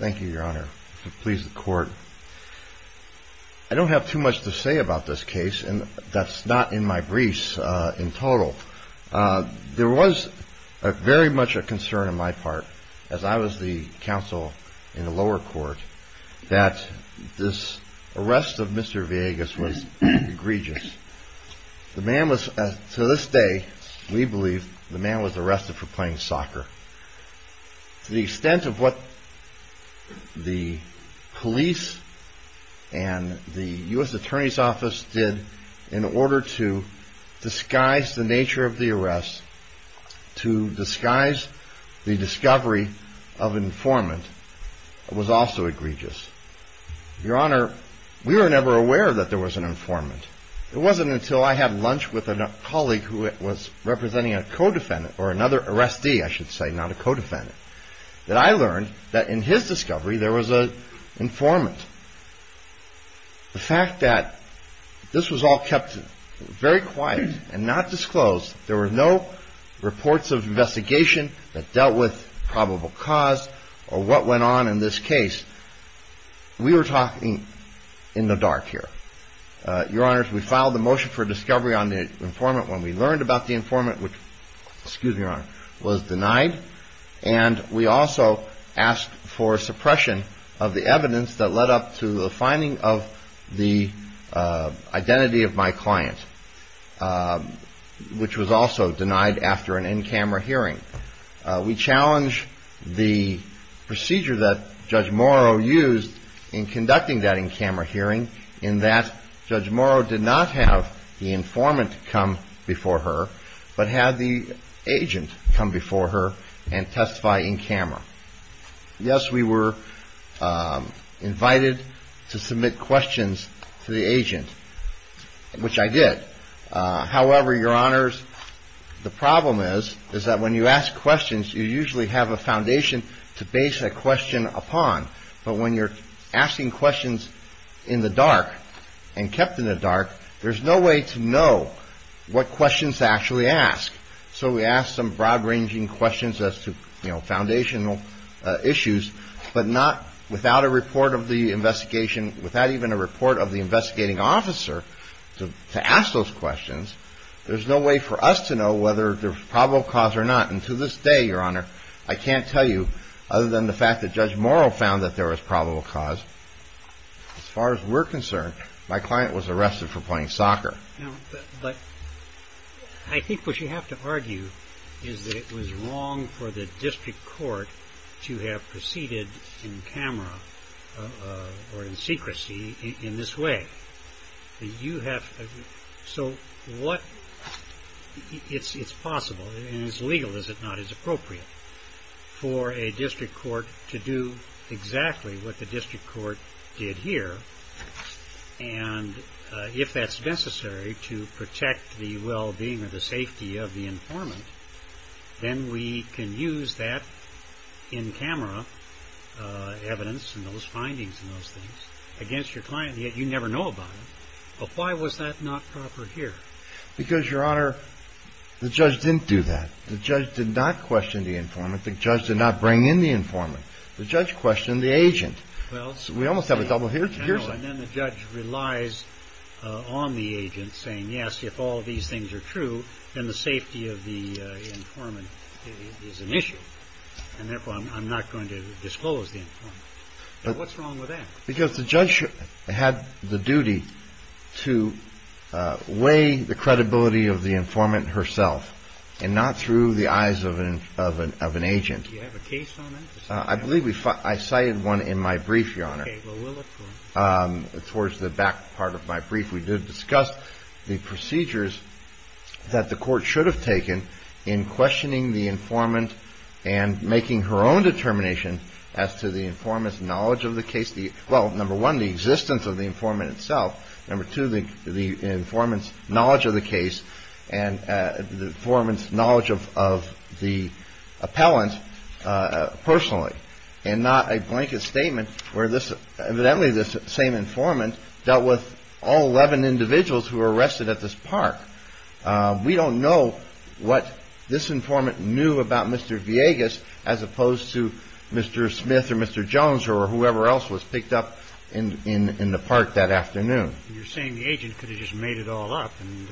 I don't have too much to say about this case, and that's not in my briefs in total. There was very much a concern on my part, as I was the counsel in the lower court, that this arrest of Mr. Villegas was egregious. To this day, we believe, the man was arrested for playing soccer. To the extent of what the police and the U.S. Attorney's Office did in order to disguise the nature of the arrest, to disguise the discovery of an informant, was also egregious. Your Honor, we were never aware that there was an informant. It wasn't until I had lunch with a colleague who was representing a co-defendant, or another arrestee, I should say, not a co-defendant, that I learned that in his discovery there was an informant. The fact that this was all kept very quiet and not disclosed, there were no reports of investigation that dealt with probable cause or what went on in this case, we were talking in the dark here. Your Honor, we filed a motion for discovery on the informant when we learned about the informant, which was denied, and we also asked for suppression of the evidence that led up to the finding of the identity of my client, which was also denied after an in-camera hearing. We challenged the procedure that Judge Morrow used in conducting that in-camera hearing in that Judge Morrow did not have the informant come before her, but had the agent come before her and testify in-camera. Yes, we were invited to submit questions to the agent, which I did. However, Your Honors, the problem is that when you ask questions, you usually have a foundation to base that question upon, but when you're asking questions in the dark and kept in the dark, there's no way to know what questions to actually ask. So we asked some broad-ranging questions as to foundational issues, but not without a report of the investigation, without even a report of the investigating officer to ask those questions, there's no way for us to know whether there's probable cause or not. And to this day, Your Honor, I can't tell you, other than the fact that Judge Morrow found that there was probable cause, as far as we're concerned, my client was arrested for playing soccer. But I think what you have to argue is that it was wrong for the district court to have proceeded in-camera or in secrecy in this way. So it's possible, and as legal as it's not, it's appropriate for a district court to do exactly what the district court did here, and if that's necessary to protect the well-being or the safety of the informant, then we can use that in-camera evidence and those findings and those things against your client. And yet you never know about it. But why was that not proper here? Because, Your Honor, the judge didn't do that. The judge did not question the informant. The judge did not bring in the informant. The judge questioned the agent. We almost have a double hearsay. And then the judge relies on the agent saying, yes, if all these things are true, then the safety of the informant is an issue, and therefore I'm not going to disclose the informant. What's wrong with that? Because the judge had the duty to weigh the credibility of the informant herself and not through the eyes of an agent. Do you have a case on that? I believe I cited one in my brief, Your Honor. Okay. Well, we'll look for it. Towards the back part of my brief, we did discuss the procedures that the court should have taken in questioning the informant and making her own determination as to the informant's knowledge of the case. Well, number one, the existence of the informant itself. Number two, the informant's knowledge of the case and the informant's knowledge of the appellant personally and not a blanket statement where evidently this same informant dealt with all 11 individuals who were arrested at this park. We don't know what this informant knew about Mr. Villegas as opposed to Mr. Smith or Mr. Jones or whoever else was picked up in the park that afternoon. You're saying the agent could have just made it all up and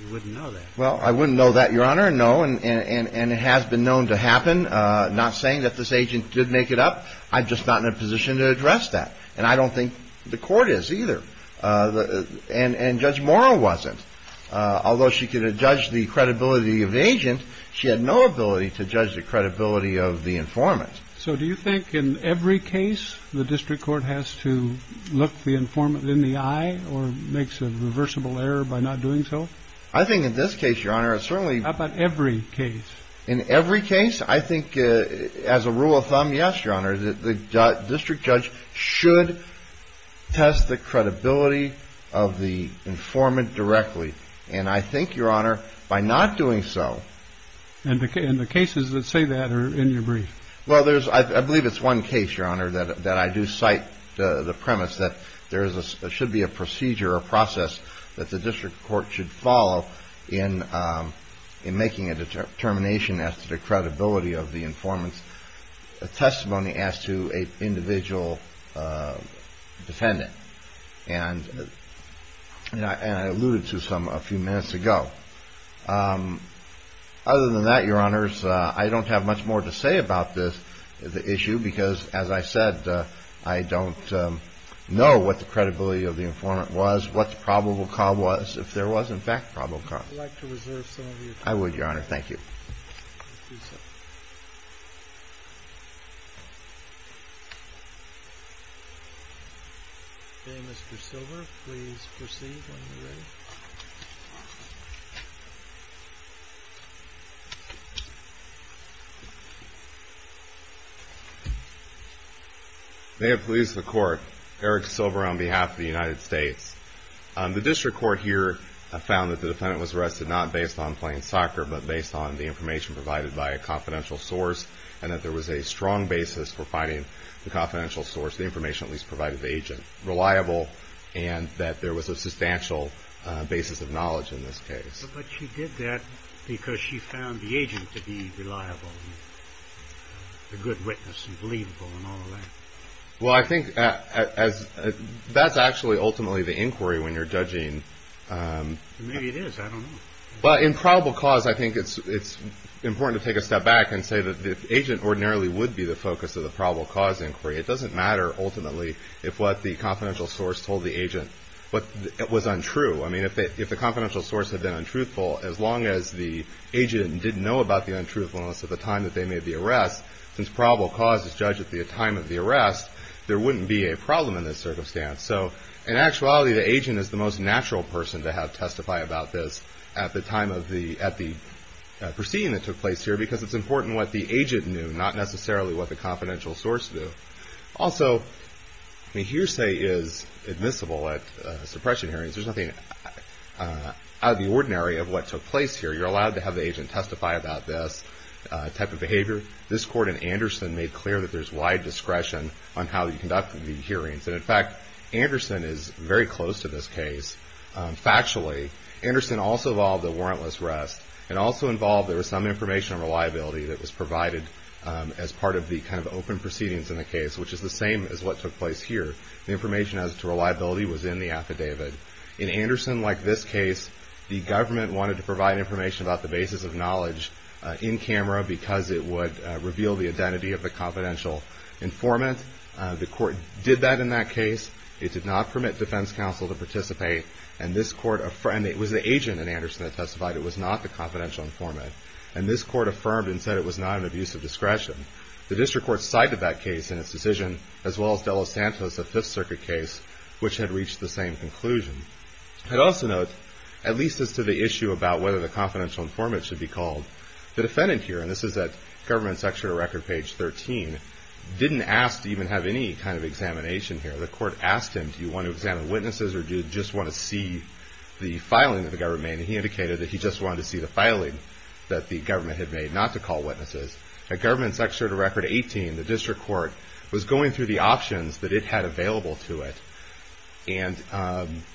you wouldn't know that. Well, I wouldn't know that, Your Honor, no. And it has been known to happen. Not saying that this agent did make it up, I'm just not in a position to address that. And I don't think the court is either. And Judge Morrow wasn't. Although she could have judged the credibility of the agent, she had no ability to judge the credibility of the informant. So do you think in every case the district court has to look the informant in the eye or makes a reversible error by not doing so? I think in this case, Your Honor, it's certainly... How about every case? In every case, I think as a rule of thumb, yes, Your Honor, the district judge should test the credibility of the informant directly. And I think, Your Honor, by not doing so... And the cases that say that are in your brief. Well, I believe it's one case, Your Honor, that I do cite the premise that there should be a procedure or process that the district court should follow in making a determination as to the credibility of the informant's testimony as to an individual defendant. And I alluded to some a few minutes ago. Other than that, Your Honors, I don't have much more to say about this issue because, as I said, I don't know what the credibility of the informant was, what the probable cause was, if there was in fact a probable cause. I'd like to reserve some of your time. I would, Your Honor. Thank you. Okay, Mr. Silver, please proceed when you're ready. May it please the Court. Eric Silver on behalf of the United States. The district court here found that the defendant was arrested not based on playing soccer, but based on the information provided by a confidential source, and that there was a strong basis for finding the confidential source, the information at least provided to the agent, and that there was a substantial basis of knowledge in this case. But she did that because she found the agent to be reliable and a good witness and believable and all of that. Well, I think that's actually ultimately the inquiry when you're judging. Maybe it is. I don't know. Well, in probable cause, I think it's important to take a step back and say that the agent ordinarily would be the focus of the probable cause inquiry. It doesn't matter ultimately if what the confidential source told the agent was untrue. I mean, if the confidential source had been untruthful, as long as the agent didn't know about the untruthfulness at the time that they made the arrest, since probable cause is judged at the time of the arrest, there wouldn't be a problem in this circumstance. So in actuality, the agent is the most natural person to have testify about this at the time of the proceeding that took place here because it's important what the agent knew, not necessarily what the confidential source knew. Also, hearsay is admissible at suppression hearings. There's nothing out of the ordinary of what took place here. You're allowed to have the agent testify about this type of behavior. This court in Anderson made clear that there's wide discretion on how you conduct the hearings. And in fact, Anderson is very close to this case. Factually, Anderson also involved the warrantless arrest and also involved there was some information on reliability that was provided as part of the kind of open proceedings in the case, which is the same as what took place here. The information as to reliability was in the affidavit. In Anderson, like this case, the government wanted to provide information about the basis of knowledge in camera because it would reveal the identity of the confidential informant. The court did that in that case. It did not permit defense counsel to participate. And this court affirmed it was the agent in Anderson that testified. It was not the confidential informant. And this court affirmed and said it was not an abuse of discretion. The district court cited that case in its decision, as well as Dela Santos, a Fifth Circuit case, which had reached the same conclusion. I'd also note, at least as to the issue about whether the confidential informant should be called, the defendant here, and this is at government section of record page 13, didn't ask to even have any kind of examination here. The court asked him, do you want to examine witnesses or do you just want to see the filing of the government? And he indicated that he just wanted to see the filing that the government had made, not to call witnesses. At government section of record 18, the district court was going through the options that it had available to it. And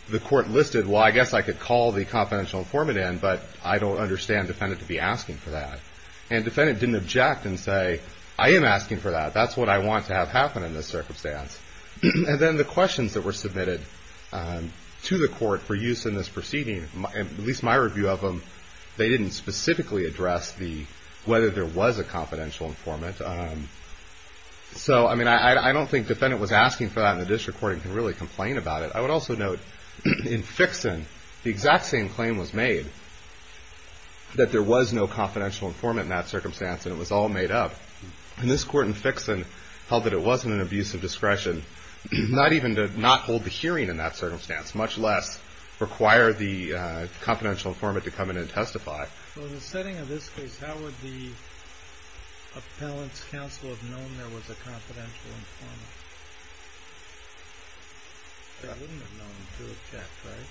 the court listed, well, I guess I could call the confidential informant in, but I don't understand the defendant to be asking for that. And the defendant didn't object and say, I am asking for that. That's what I want to have happen in this circumstance. And then the questions that were submitted to the court for use in this proceeding, at least my review of them, they didn't specifically address whether there was a confidential informant. So, I mean, I don't think the defendant was asking for that and the district court can really complain about it. I would also note, in Fixon, the exact same claim was made, that there was no confidential informant in that circumstance and it was all made up. And this court in Fixon held that it wasn't an abuse of discretion, not even to not hold the hearing in that circumstance, much less require the confidential informant to come in and testify. So in the setting of this case, how would the appellant's counsel have known there was a confidential informant? They wouldn't have known to have checked, right?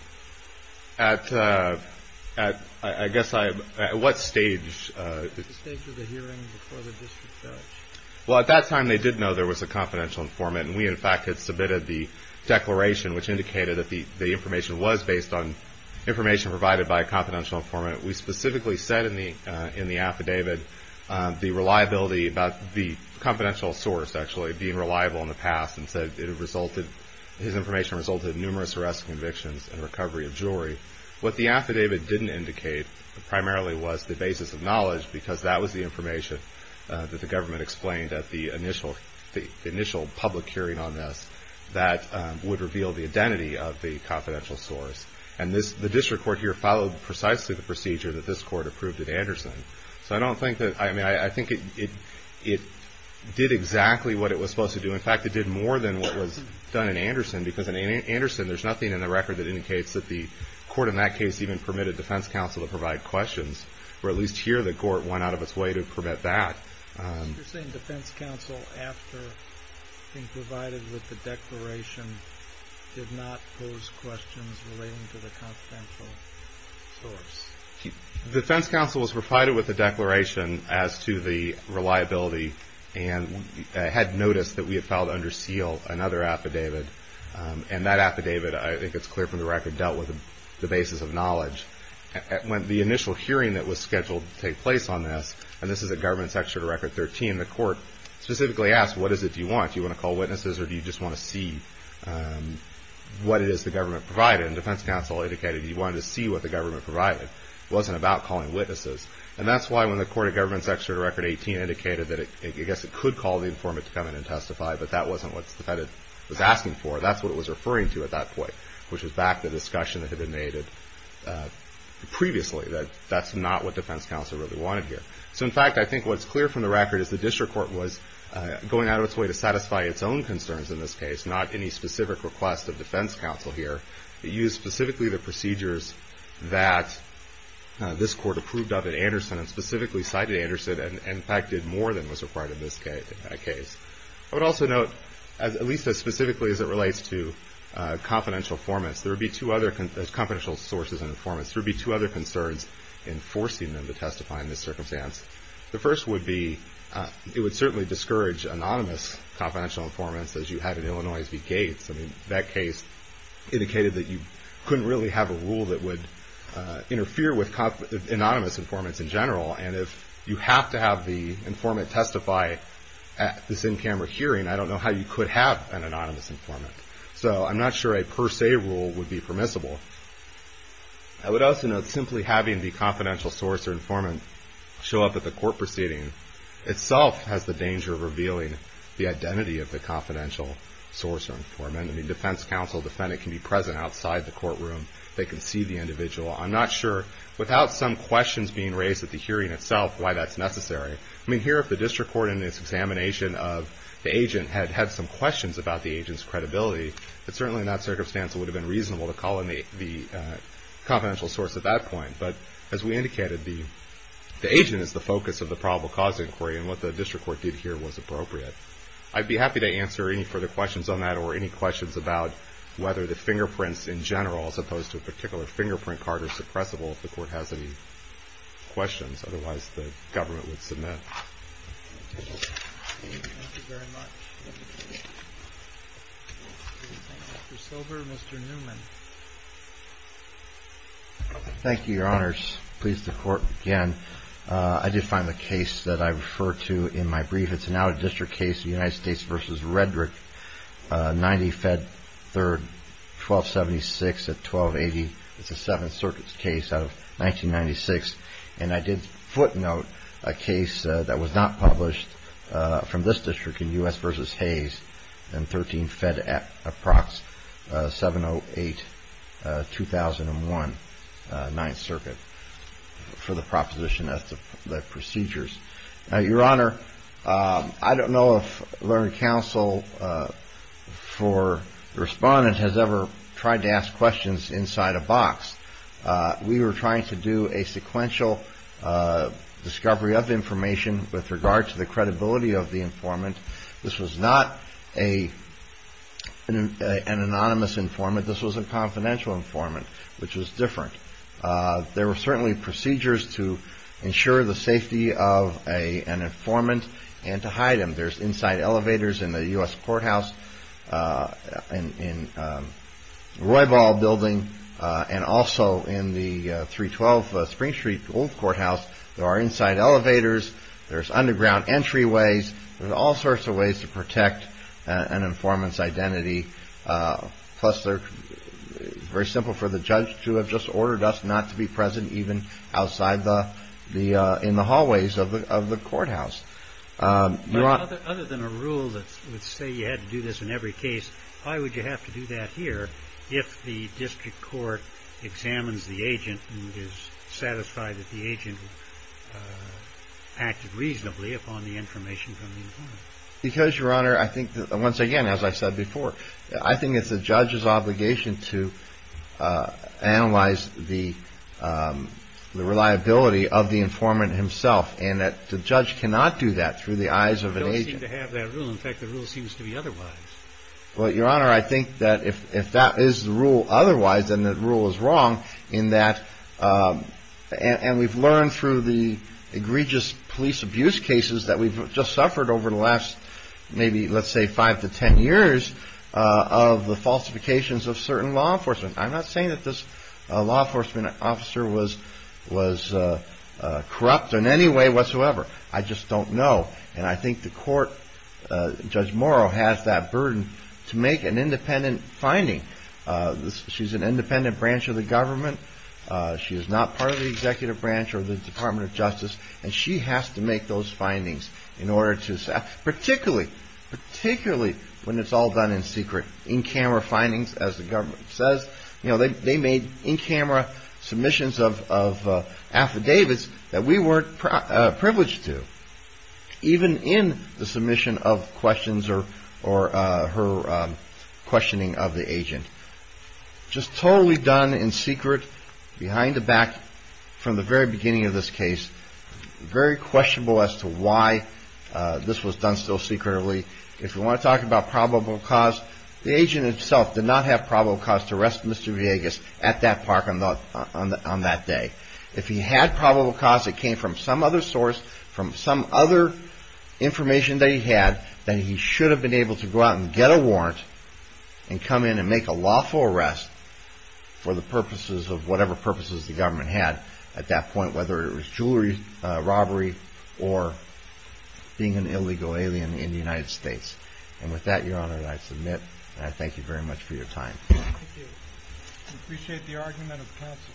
At, I guess, at what stage? At the stage of the hearing before the district judge. Well, at that time, they did know there was a confidential informant and we, in fact, had submitted the declaration, which indicated that the information was based on information provided by a confidential informant. We specifically said in the affidavit the reliability about the confidential source, actually, being reliable in the past and said it resulted, his information resulted in numerous arrest convictions and recovery of jury. What the affidavit didn't indicate primarily was the basis of knowledge because that was the information that the government explained at the initial public hearing on this that would reveal the identity of the confidential source. And the district court here followed precisely the procedure that this court approved at Anderson. So I don't think that, I mean, I think it did exactly what it was supposed to do. In fact, it did more than what was done in Anderson because in Anderson there's nothing in the record that indicates that the court in that case even permitted defense counsel to provide questions, or at least here the court went out of its way to permit that. You're saying defense counsel, after being provided with the declaration, did not pose questions relating to the confidential source? Defense counsel was provided with the declaration as to the reliability and had noticed that we had filed under seal another affidavit. And that affidavit, I think it's clear from the record, dealt with the basis of knowledge. When the initial hearing that was scheduled to take place on this, and this is at Government Section Record 13, the court specifically asked, what is it you want, do you want to call witnesses or do you just want to see what it is the government provided? And defense counsel indicated he wanted to see what the government provided. It wasn't about calling witnesses. And that's why when the Court of Government Section Record 18 indicated that I guess it could call the informant to come in and testify, but that wasn't what the defendant was asking for. That's what it was referring to at that point, which was back to the discussion that had been made previously, that that's not what defense counsel really wanted here. So in fact, I think what's clear from the record is the district court was going out of its way to satisfy its own concerns in this case, not any specific request of defense counsel here. It used specifically the procedures that this court approved of at Anderson and specifically cited Anderson and, in fact, did more than was required in that case. I would also note, at least as specifically as it relates to confidential sources and informants, there would be two other concerns in forcing them to testify in this circumstance. The first would be it would certainly discourage anonymous confidential informants as you had in Illinois v. Gates. I mean, that case indicated that you couldn't really have a rule that would interfere with anonymous informants in general, and if you have to have the informant testify at this in-camera hearing, I don't know how you could have an anonymous informant. So I'm not sure a per se rule would be permissible. I would also note simply having the confidential source or informant show up at the court proceeding itself has the danger of revealing the identity of the confidential source or informant. I mean, defense counsel, defendant can be present outside the courtroom. They can see the individual. I'm not sure without some questions being raised at the hearing itself why that's necessary. I mean, here if the district court in its examination of the agent had had some questions about the agent's credibility, it certainly in that circumstance would have been reasonable to call in the confidential source at that point. But as we indicated, the agent is the focus of the probable cause inquiry, and what the district court did here was appropriate. I'd be happy to answer any further questions on that or any questions about whether the fingerprints in general as opposed to a particular fingerprint card are suppressible if the court has any questions. Otherwise, the government would submit. Thank you very much. Mr. Silver, Mr. Newman. Thank you, Your Honors. Pleased to court again. I did find the case that I referred to in my brief. It's an out-of-district case, the United States v. Redrick, 90 Fed 3rd, 1276 at 1280. It's a Seventh Circuit's case out of 1996, and I did footnote a case that was not published from this district in U.S. v. Hayes and 13 Fed Approx, 708, 2001, Ninth Circuit for the proposition of the procedures. Now, Your Honor, I don't know if Learned Counsel for the Respondent has ever tried to ask questions inside a box. We were trying to do a sequential discovery of information with regard to the credibility of the informant. This was not an anonymous informant. This was a confidential informant, which was different. There were certainly procedures to ensure the safety of an informant and to hide him. There's inside elevators in the U.S. courthouse, in Roybal Building, and also in the 312 Spring Street Old Courthouse. There are inside elevators. There's underground entryways. There's all sorts of ways to protect an informant's identity. Plus, it's very simple for the judge to have just ordered us not to be present even outside in the hallways of the courthouse. But other than a rule that would say you had to do this in every case, why would you have to do that here if the district court examines the agent and is satisfied that the agent acted reasonably upon the information from the informant? Because, Your Honor, I think that, once again, as I said before, I think it's the judge's obligation to analyze the reliability of the informant himself and that the judge cannot do that through the eyes of an agent. We don't seem to have that rule. In fact, the rule seems to be otherwise. Well, Your Honor, I think that if that is the rule otherwise, then the rule is wrong in that and we've learned through the egregious police abuse cases that we've just suffered over the last maybe, let's say, five to ten years of the falsifications of certain law enforcement. I'm not saying that this law enforcement officer was corrupt in any way whatsoever. I just don't know. And I think the court, Judge Morrow, has that burden to make an independent finding. She's an independent branch of the government. She is not part of the executive branch or the Department of Justice. And she has to make those findings in order to, particularly when it's all done in secret, in-camera findings, as the government says. They made in-camera submissions of affidavits that we weren't privileged to, even in the submission of questions or her questioning of the agent. Just totally done in secret, behind the back, from the very beginning of this case. Very questionable as to why this was done so secretly. If you want to talk about probable cause, the agent himself did not have probable cause to arrest Mr. Villegas at that park on that day. If he had probable cause that came from some other source, from some other information that he had, then he should have been able to go out and get a warrant and come in and make a lawful arrest for the purposes of whatever purposes the government had at that point, whether it was jewelry robbery or being an illegal alien in the United States. And with that, Your Honor, I submit and I thank you very much for your time. Thank you. I appreciate the argument of counsel.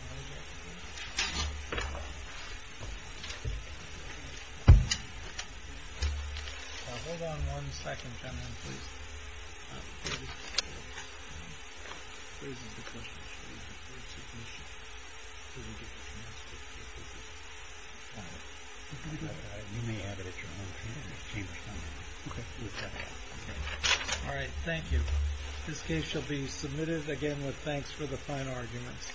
Hold on one second, gentlemen, please. All right, thank you. This case shall be submitted again with thanks for the fine arguments.